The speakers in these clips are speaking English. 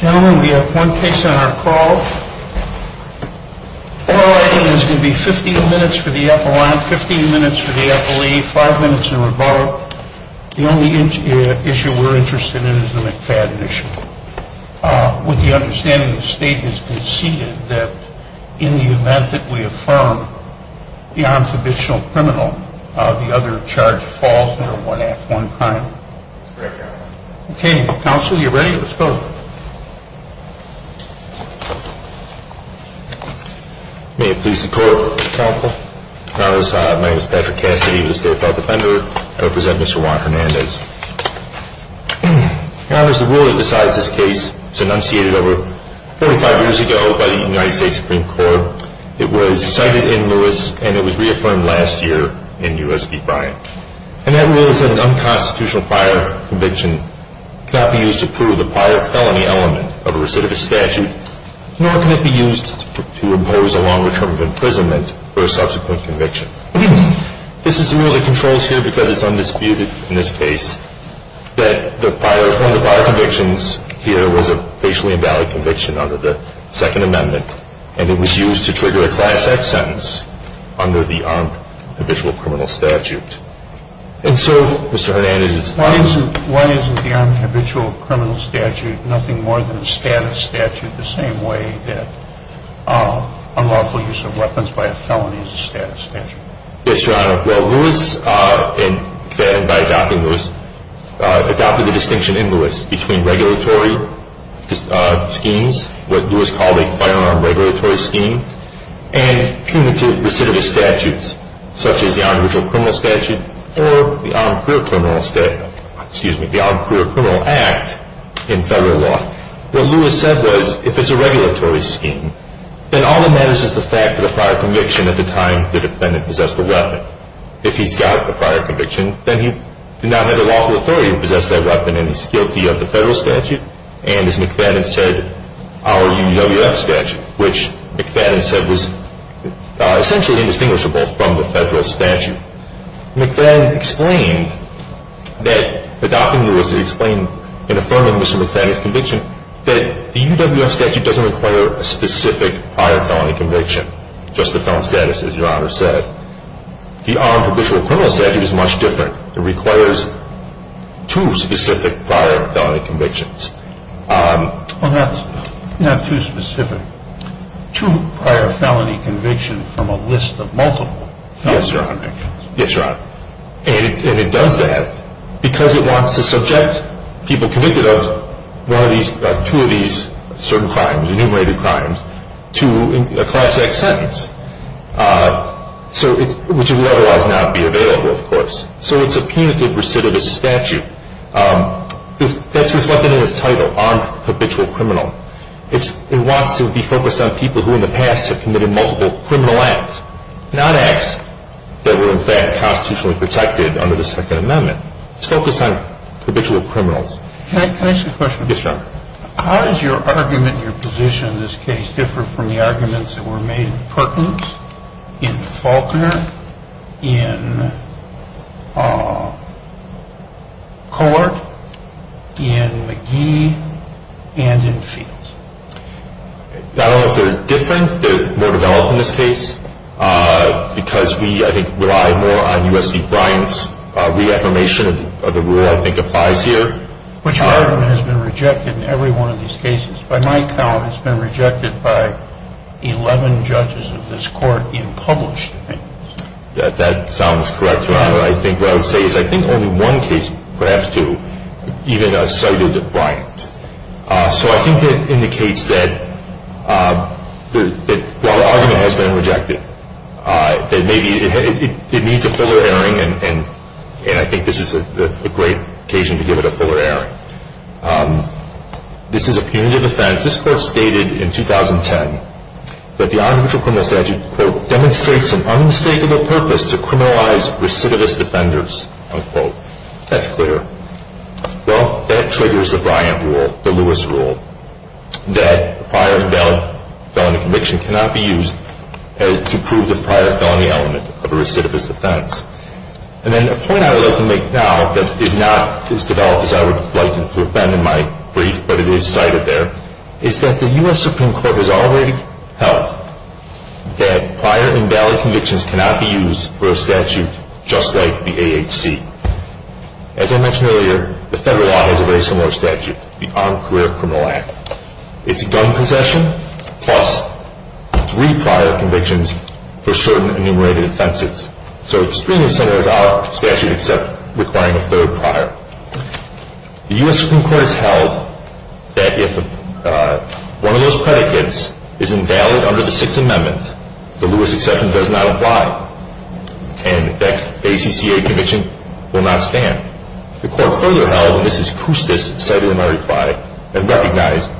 Gentlemen, we have one case on our call. Our item is going to be 15 minutes for the appellant, 15 minutes for the appellee, 5 minutes in rebuttal. The only issue we're interested in is the McFadden issue. With the understanding the state has conceded that in the event that we affirm the unfinitional criminal, the other charge falls under one act, one crime. Okay counsel, are you ready? Let's go. May it please the court. My name is Patrick Cassidy, I'm a state file defender. I represent Mr. Juan Hernandez. The rule that decides this case was enunciated over 45 years ago by the United States Supreme Court. It was cited in Lewis, and it was reaffirmed last year in U.S. v. Bryant. And that rule is that an unconstitutional prior conviction cannot be used to prove the prior felony element of a recidivist statute, nor can it be used to impose a longer term of imprisonment for a subsequent conviction. This is the rule that controls here because it's undisputed in this case that the prior, one of the prior convictions here was a facially invalid conviction under the second amendment, and it was used to trigger a class X sentence under the unhabitual criminal statute. And so Mr. Hernandez is- Why isn't the unhabitual criminal statute nothing more than a status statute the same way that unlawful use of weapons by a felony is a status statute? Yes, your honor. Well, Lewis, and McFadden by adopting Lewis, adopted the distinction in Lewis between regulatory schemes, what Lewis called a firearm regulatory scheme, and punitive recidivist statutes, such as the unhabitual criminal statute or the armed career criminal act in federal law. What Lewis said was, if it's a regulatory scheme, then all that matters is the fact of the prior conviction at the time the defendant possessed the weapon. If he's got a prior conviction, then he did not have the lawful authority to possess that weapon, and he's guilty of the federal statute, and as McFadden said, our UWF statute, which McFadden said was essentially indistinguishable from the federal statute. McFadden explained that the document was explained in affirming Mr. McFadden's conviction that the UWF statute doesn't require a specific prior felony conviction, just the felon status, as your honor said. The armed habitual criminal statute is much different. It requires two specific prior felony convictions. Well, that's not too specific. Two prior felony convictions from a list of multiple felon convictions. Yes, your honor. Yes, your honor. And it does that because it wants to subject people convicted of one of these, two of these certain crimes, enumerated crimes, to a class X sentence, which would otherwise not be available, of course. So it's a punitive recidivist statute. That's reflected in its title, armed habitual criminal. It wants to be focused on people who in the past have committed multiple criminal acts, not acts that were in fact constitutionally protected under the Second Amendment. It's focused on habitual criminals. Can I ask you a question? Yes, your honor. How does your argument and your position in the arguments that were made in Perkins, in Faulkner, in Cohart, in McGee, and in Fields? I don't know if they're different. They're more developed in this case because we, I think, rely more on U.S.B. Bryant's reaffirmation of the rule, I think, applies here. Which argument has been rejected in every one of these cases? By my count, it's been rejected by 11 judges of this court in published things. That sounds correct, your honor. I think what I would say is I think only one case, perhaps, to even a cited Bryant. So I think that indicates that while the argument has been rejected, that maybe it needs a fuller airing, and I think this is a great occasion to give it a fuller airing. This is a punitive offense. This court stated in 2010 that the arbitrary criminal statute quote, demonstrates an unmistakable purpose to criminalize recidivist offenders, unquote. That's clear. Well, that triggers the Bryant rule, the Lewis rule, that prior felony conviction cannot be used to prove the prior felony element of a recidivist offense. And then a point I would like to make now that is not as developed as I would like it to have been in my brief, but it is cited there, is that the U.S. Supreme Court has already held that prior invalid convictions cannot be used for a statute just like the AHC. As I mentioned earlier, the federal law has a very similar statute, the Armed Career Criminal Act. It's a gun possession plus three prior convictions for certain enumerated offenses. So it's pretty similar to our statute except requiring a third prior. The U.S. Supreme Court has held that if one of those predicates is invalid under the Sixth Amendment, the Lewis exception does not apply, and that ACCA conviction will not stand. The court further held, and this is Kustis citing in my reply and recognized,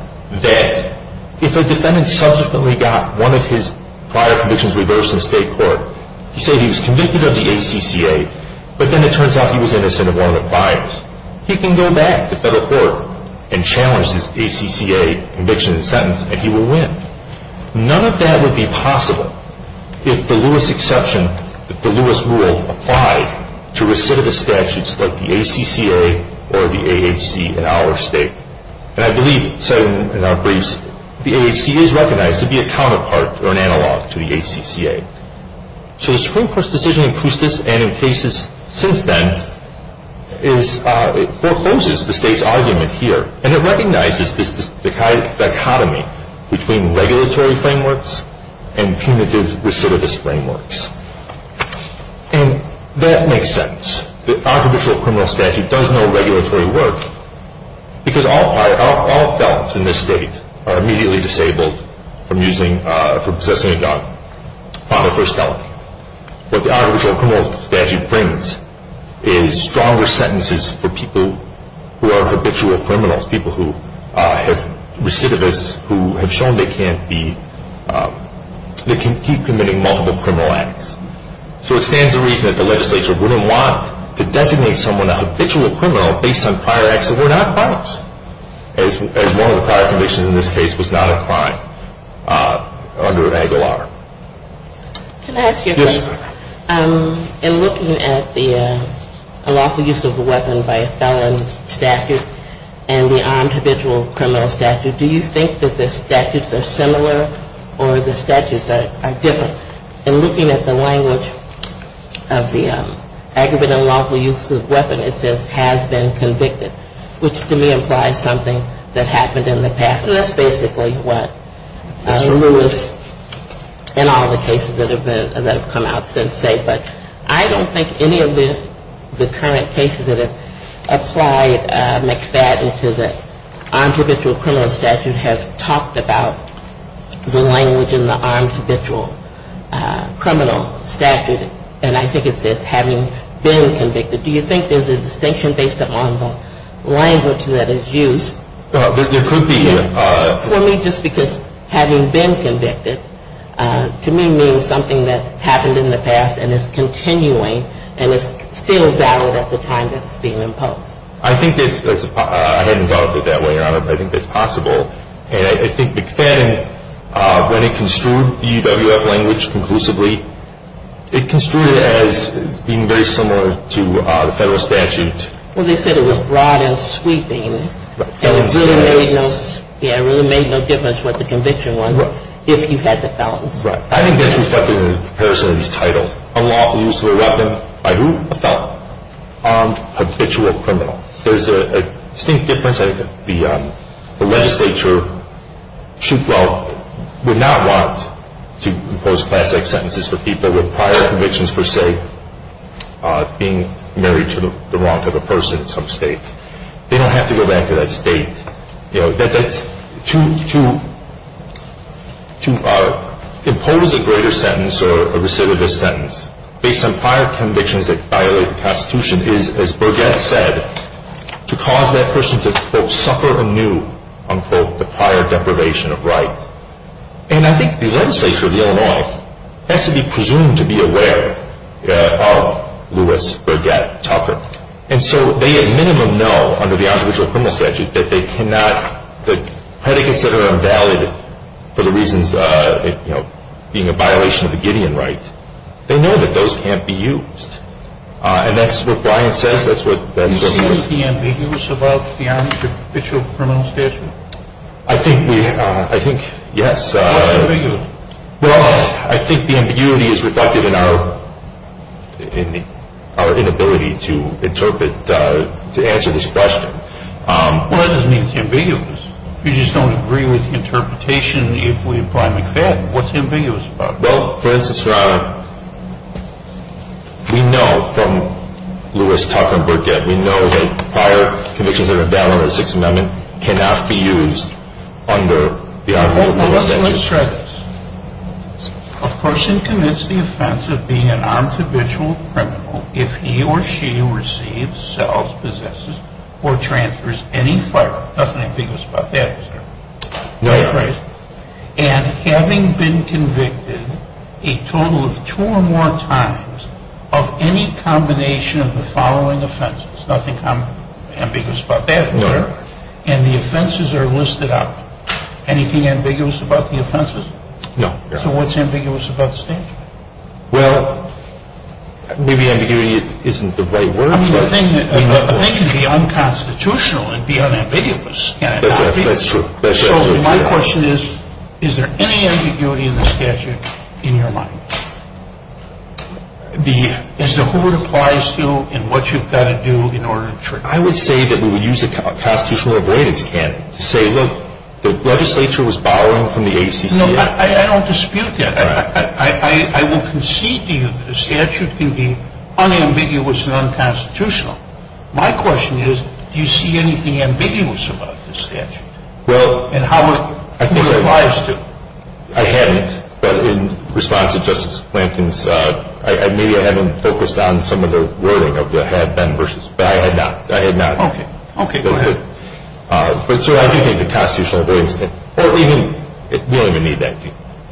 that if a defendant subsequently got one of his prior convictions reversed in state court, he said he was convicted of the ACCA, but then it turns out he was innocent of one of the priors, he can go back to federal court and challenge his ACCA conviction and sentence and he will win. None of that would be possible if the Lewis exception, if the Lewis rule applied to recidivist statutes like the ACCA or the AHC in our state. And I believe, citing in our briefs, the AHC is recognized to be a counterpart or an analog to the ACCA. So the Supreme Court's decision in Kustis and in cases since then forecloses the state's argument here, and it recognizes this dichotomy between regulatory frameworks and punitive recidivist frameworks. And that makes sense. The unhabitual criminal statute does no regulatory work because all felons in this state are immediately disabled from possessing a gun upon their first felony. What the unhabitual criminal statute brings is stronger sentences for people who are habitual criminals, people who have recidivists who have shown they can't be, that can keep committing multiple criminal acts. So it stands to reason that the legislature wouldn't want to designate someone a habitual criminal based on prior acts that were not crimes, as one of the prior convictions in this case was not a crime under angle R. Can I ask you a question? Yes, ma'am. In looking at the unlawful use of a weapon by a felon statute and the unhabitual criminal statute, do you think that the statutes are similar or the statutes are different? In looking at the language of the aggravated unlawful use of a weapon, it says has been convicted, which to me implies something that happened in the past. And that's basically what Mr. Lewis and all the cases that have come out since say. But I don't think any of the current cases that have applied McFadden to the unhabitual criminal statute have talked about the language in the unhabitual criminal statute. And I think it says having been convicted. Do you think there's a distinction based upon the language that is used? There could be. For me, just because having been convicted to me means something that happened in the past and is continuing and is still valid at the time that it's being imposed. I hadn't thought of it that way, Your Honor, but I think it's possible. And I think McFadden, when he construed the UWF language conclusively, it construed it as being very similar to the federal statute. Well, they said it was broad and sweeping. And it really made no difference what the conviction was if you had the felons. Right. I think that's reflected in the comparison of these titles. Unlawful use of a weapon. By who? A felon. Armed habitual criminal. There's a distinct difference. I think the legislature would not want to impose class X sentences for people with prior convictions for, say, being married to the wrong type of person in some state. They don't have to go back to that state. To impose a greater sentence or a recidivist sentence based on prior convictions that violate the Constitution is, as Burgett said, to cause that person to, quote, suffer anew, unquote, the prior deprivation of rights. And I think the legislature of Illinois has to be presumed to be aware of Louis Burgett Tucker. And so they at minimum know under the armed habitual criminal statute that they cannot the predicates that are invalid for the reasons, you know, being a violation of the Gideon rights, they know that those can't be used. And that's what Brian says. That's what Ben's opinion is. Do you see anything ambiguous about the armed habitual criminal statute? I think we, I think, yes. What's ambiguous? Well, I think the ambiguity is reflected in our inability to interpret, to answer this question. Well, that doesn't mean it's ambiguous. We just don't agree with the interpretation if we apply McFadden. What's ambiguous about it? Well, for instance, Your Honor, we know from Louis Tucker and Burgett, we know that prior convictions that are invalid under the Sixth Amendment cannot be used under the armed habitual criminal statute. Let's try this. A person commits the offense of being an armed habitual criminal if he or she receives, sells, possesses, or transfers any firearm. Nothing ambiguous about that, is there? No, Your Honor. And having been convicted a total of two or more times of any combination of the following offenses. Nothing ambiguous about that, is there? No, Your Honor. And the offenses are listed up. Anything ambiguous about the offenses? No, Your Honor. So what's ambiguous about the statute? Well, maybe ambiguity isn't the right word. I mean, the thing is the unconstitutional would be unambiguous. That's true. So my question is, is there any ambiguity in the statute in your mind? As to who it applies to and what you've got to do in order to treat it. I would say that we would use a constitutional avoidance candidate. To say, look, the legislature was borrowing from the ACC. No, I don't dispute that. I will concede to you that a statute can be unambiguous and unconstitutional. My question is, do you see anything ambiguous about this statute? Well, I think. And who it applies to. I hadn't. But in response to Justice Plankton's, maybe I haven't focused on some of the wording of the had been versus. But I had not. I had not. Okay. Go ahead. But, sir, I do think the constitutional avoidance. We don't even need that.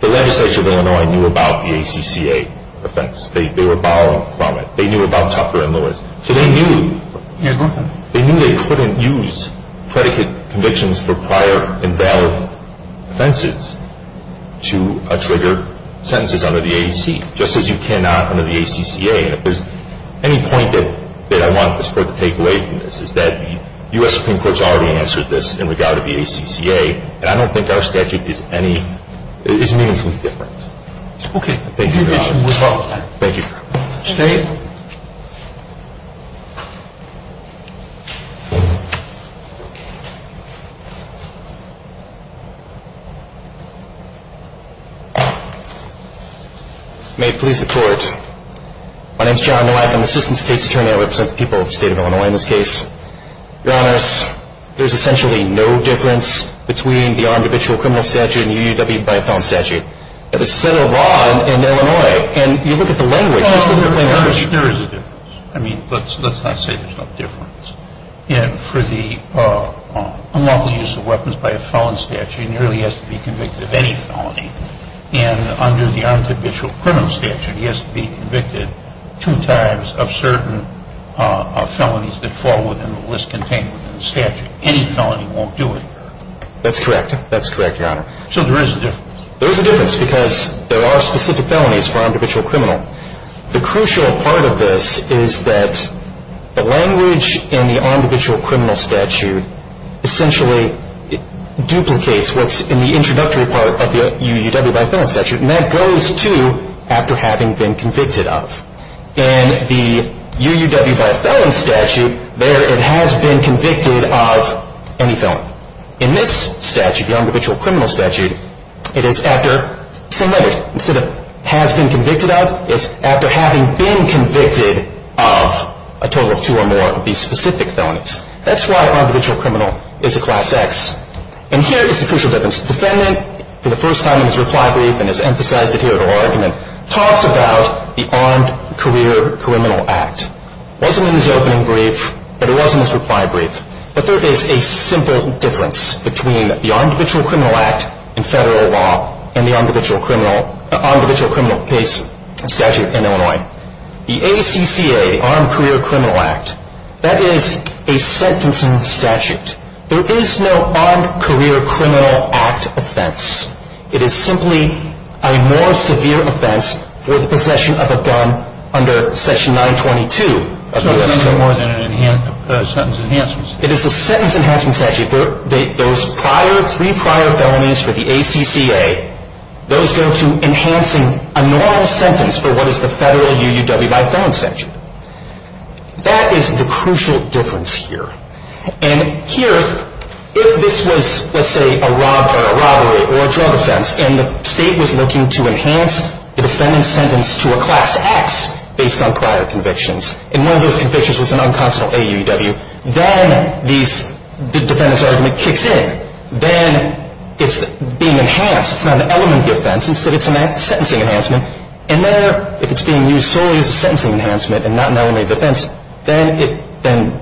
The legislature of Illinois knew about the ACCA offense. They were borrowing from it. They knew about Tucker and Lewis. So they knew they couldn't use predicate convictions for prior invalid offenses to trigger sentences under the ACC. Just as you cannot under the ACCA. And if there's any point that I want this Court to take away from this is that the U.S. Supreme Court has already answered this in regard to the ACCA. And I don't think our statute is any, is meaningfully different. Thank you, Your Honor. Thank you, Your Honor. May it please the Court. My name is John Nolak. I'm the Assistant State's Attorney. I represent the people of the State of Illinois in this case. Your Honors, there's essentially no difference between the armed habitual criminal statute and the UUW by a felon statute. There's a set of law in Illinois. And you look at the language. There is a difference. I mean, let's not say there's no difference. For the unlawful use of weapons by a felon statute, he nearly has to be convicted of any felony. And under the armed habitual criminal statute, he has to be convicted two times of certain felonies that fall within the list contained within the statute. Any felony won't do it. That's correct. That's correct, Your Honor. So there is a difference. There is a difference because there are specific felonies for armed habitual criminal. The crucial part of this is that the language in the armed habitual criminal statute essentially duplicates what's in the introductory part of the UUW by a felon statute. And that goes to after having been convicted of. In the UUW by a felon statute, there it has been convicted of any felony. In this statute, the armed habitual criminal statute, it is after the same language. Instead of has been convicted of, it's after having been convicted of a total of two or more of these specific felonies. That's why armed habitual criminal is a Class X. And here is the crucial difference. The defendant, for the first time in his reply brief and has emphasized it here at oral argument, talks about the Armed Career Criminal Act. It wasn't in his opening brief, but it was in his reply brief. But there is a simple difference between the Armed Habitual Criminal Act in federal law and the armed habitual criminal case statute in Illinois. The ACCA, the Armed Career Criminal Act, that is a sentencing statute. There is no Armed Career Criminal Act offense. It is simply a more severe offense for the possession of a gun under Section 922 of the U.S. Code. It is a sentence enhancement statute. Those prior, three prior felonies for the ACCA, those go to enhancing a normal sentence for what is the federal UUWI felon statute. That is the crucial difference here. And here, if this was, let's say, a robbery or a drug offense, and the state was looking to enhance the defendant's sentence to a Class X based on prior convictions, and one of those convictions was an unconstitutional AUUW, then the defendant's argument kicks in. Then it's being enhanced. It's not an element of the offense. Instead, it's a sentencing enhancement. And there, if it's being used solely as a sentencing enhancement and not an element of the offense, then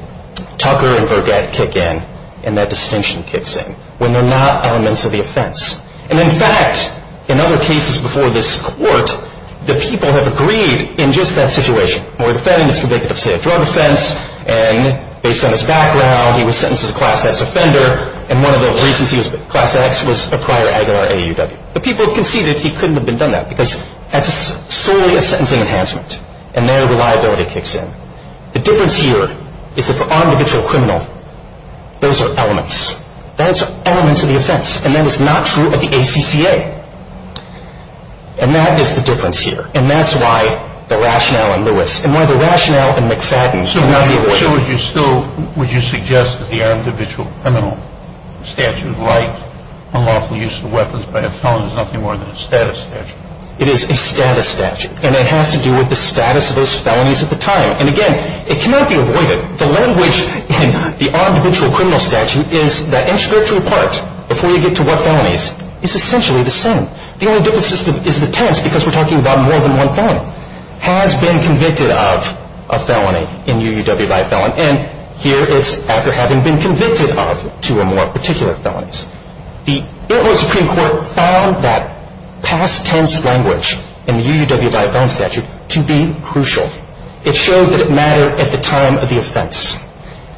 Tucker and Vergat kick in, and that distinction kicks in when they're not elements of the offense. And, in fact, in other cases before this Court, the people have agreed in just that situation. The defendant is convicted of, say, a drug offense, and based on his background, he was sentenced as a Class X offender, and one of the reasons he was Class X was a prior AUW. The people conceded he couldn't have been done that because that's solely a sentencing enhancement, and there, reliability kicks in. The difference here is that for an individual criminal, those are elements. Those are elements of the offense, and that is not true of the ACCA. And that is the difference here. And that's why the rationale in Lewis and why the rationale in McFadden would not be avoided. So would you still suggest that the individual criminal statute, like unlawful use of weapons by a felon, is nothing more than a status statute? It is a status statute, and it has to do with the status of those felonies at the time. And, again, it cannot be avoided. The language in the individual criminal statute is that in structural part, before you get to what felonies, it's essentially the same. The only difference is the tense because we're talking about more than one felon. Has been convicted of a felony in UUW by a felon, and here it's after having been convicted of two or more particular felonies. The Interim Supreme Court found that past tense language in the UUW by a felon statute to be crucial. It showed that it mattered at the time of the offense,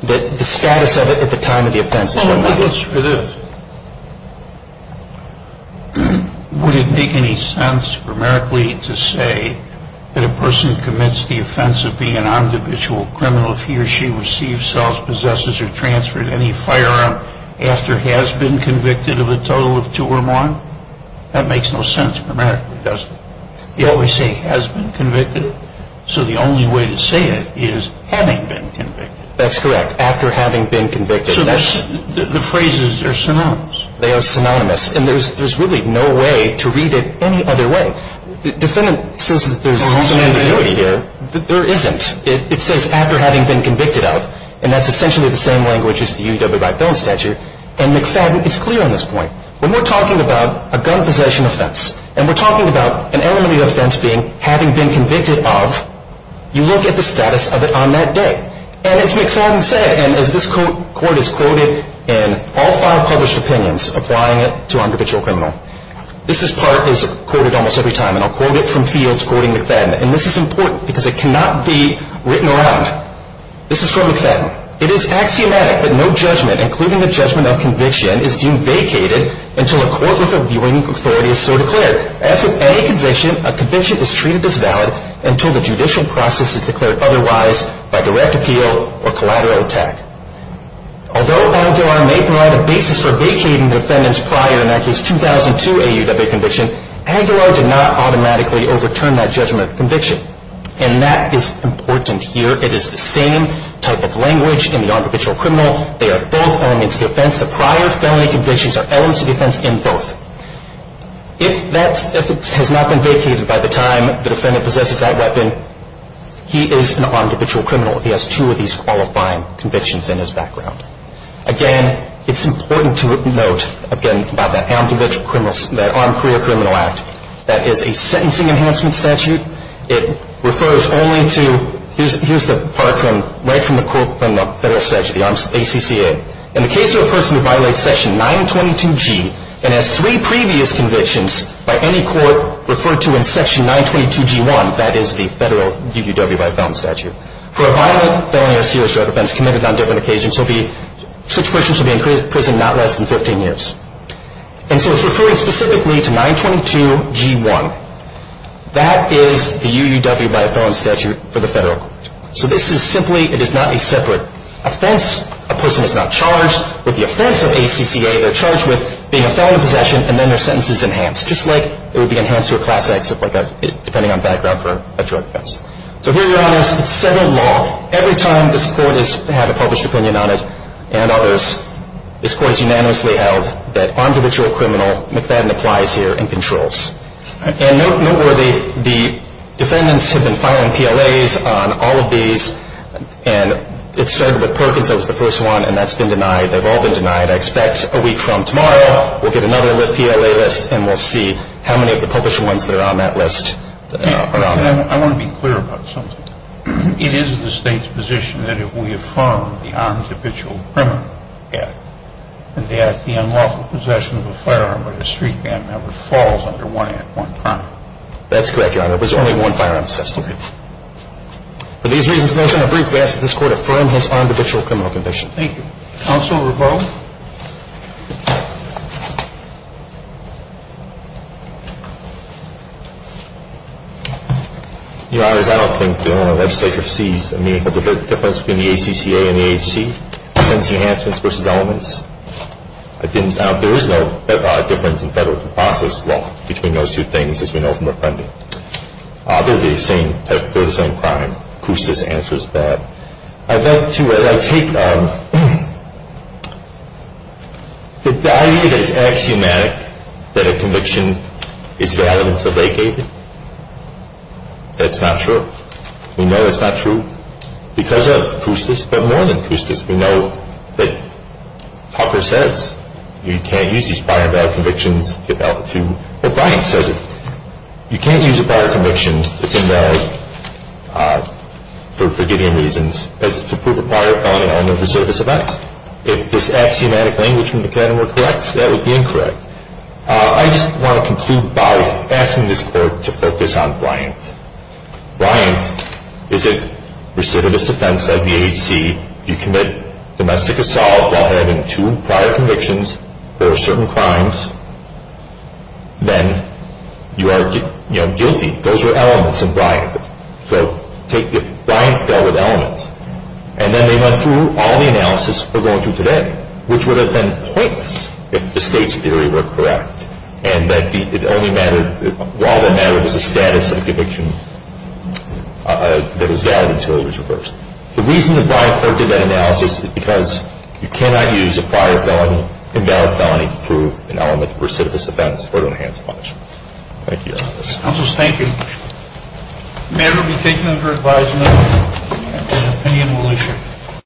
that the status of it at the time of the offense is what matters. I have a question for this. Would it make any sense, primarily, to say that a person commits the offense of being an individual criminal if he or she receives, sells, possesses, or transfers any firearm after has been convicted of a total of two or more? That makes no sense, primarily, does it? They always say has been convicted. So the only way to say it is having been convicted. That's correct. So the phrases are synonymous. They are synonymous, and there's really no way to read it any other way. The defendant says that there's synonymity here. There isn't. It says after having been convicted of, and that's essentially the same language as the UUW by a felon statute. And McFadden is clear on this point. When we're talking about a gun possession offense, and we're talking about an element of the offense being having been convicted of, you look at the status of it on that day. And as McFadden said, and as this court has quoted in all five published opinions applying it to an individual criminal, this part is quoted almost every time, and I'll quote it from Fields quoting McFadden, and this is important because it cannot be written around. This is from McFadden. It is axiomatic that no judgment, including the judgment of conviction, is deemed vacated until a court with a viewing authority is so declared. However, as with any conviction, a conviction is treated as valid until the judicial process is declared otherwise by direct appeal or collateral attack. Although ANGULAR may provide a basis for vacating the defendants prior, in that case 2002 AUW conviction, ANGULAR did not automatically overturn that judgment of conviction. And that is important here. It is the same type of language in the non-provincial criminal. They are both elements of the offense. The prior felony convictions are elements of the offense in both. If that has not been vacated by the time the defendant possesses that weapon, he is an armed habitual criminal. He has two of these qualifying convictions in his background. Again, it's important to note, again, about that armed habitual criminal, that Armed Career Criminal Act, that is a sentencing enhancement statute. It refers only to, here's the part from, right from the court, from the Federal Statute, the ACCA. In the case of a person who violates section 922G and has three previous convictions by any court referred to in section 922G1, that is the Federal UUW by felon statute. For a violent felony or serious drug offense committed on different occasions, such persons will be in prison not less than 15 years. And so it's referring specifically to 922G1. That is the UUW by felon statute for the Federal Court. So this is simply, it is not a separate offense. A person is not charged with the offense of ACCA. They're charged with being a felon in possession and then their sentence is enhanced, just like it would be enhanced to a Class X, depending on background for a drug offense. So here, Your Honors, it's separate law. Every time this Court has had a published opinion on it and others, this Court has unanimously held that armed habitual criminal McFadden applies here and controls. And noteworthy, the defendants have been filing PLAs on all of these. And it started with Perkins. That was the first one. And that's been denied. They've all been denied. I expect a week from tomorrow we'll get another lit PLA list and we'll see how many of the published ones that are on that list are on it. I want to be clear about something. It is the State's position that if we affirm the armed habitual criminal act, that the unlawful possession of a firearm by a street gang member falls under one act, one crime. That's correct, Your Honor. There was only one firearm system. Okay. For these reasons and those in the brief, we ask that this Court affirm his armed habitual criminal conviction. Thank you. Counsel Rebo? Your Honors, I don't think the legislature sees a difference between the ACCA and the AHC, since enhancements versus elements. There is no difference in federal process law between those two things as we know from our funding. They're the same crime. Cousteau's answer is bad. I'd like to take the idea that it's axiomatic that a conviction is valid until vacated. That's not true. We know that's not true because of Cousteau's, but more than Cousteau's, we know that Tucker says you can't use these prior bad convictions to get out of a tube. But Bryant says it. You can't use a prior conviction that's invalid for Gideon reasons as to prove a prior felony element of a service event. If this axiomatic language from McCadam were correct, that would be incorrect. I just want to conclude by asking this Court to focus on Bryant. Bryant is a recidivist offense led by the AHC. If you commit domestic assault while having two prior convictions for certain crimes, then you are guilty. Those are elements in Bryant. Bryant dealt with elements. And then they went through all the analysis we're going through today, which would have been pointless if the state's theory were correct and that it only mattered, while it mattered, was the status of the conviction that was valid until it was reversed. The reason that Bryant court did that analysis is because you cannot use a prior felony, invalid felony, to prove an element of a recidivist offense or to enhance punishment. Thank you, Your Honor. Counsel, thank you. The matter will be taken under advisement and opinion will issue.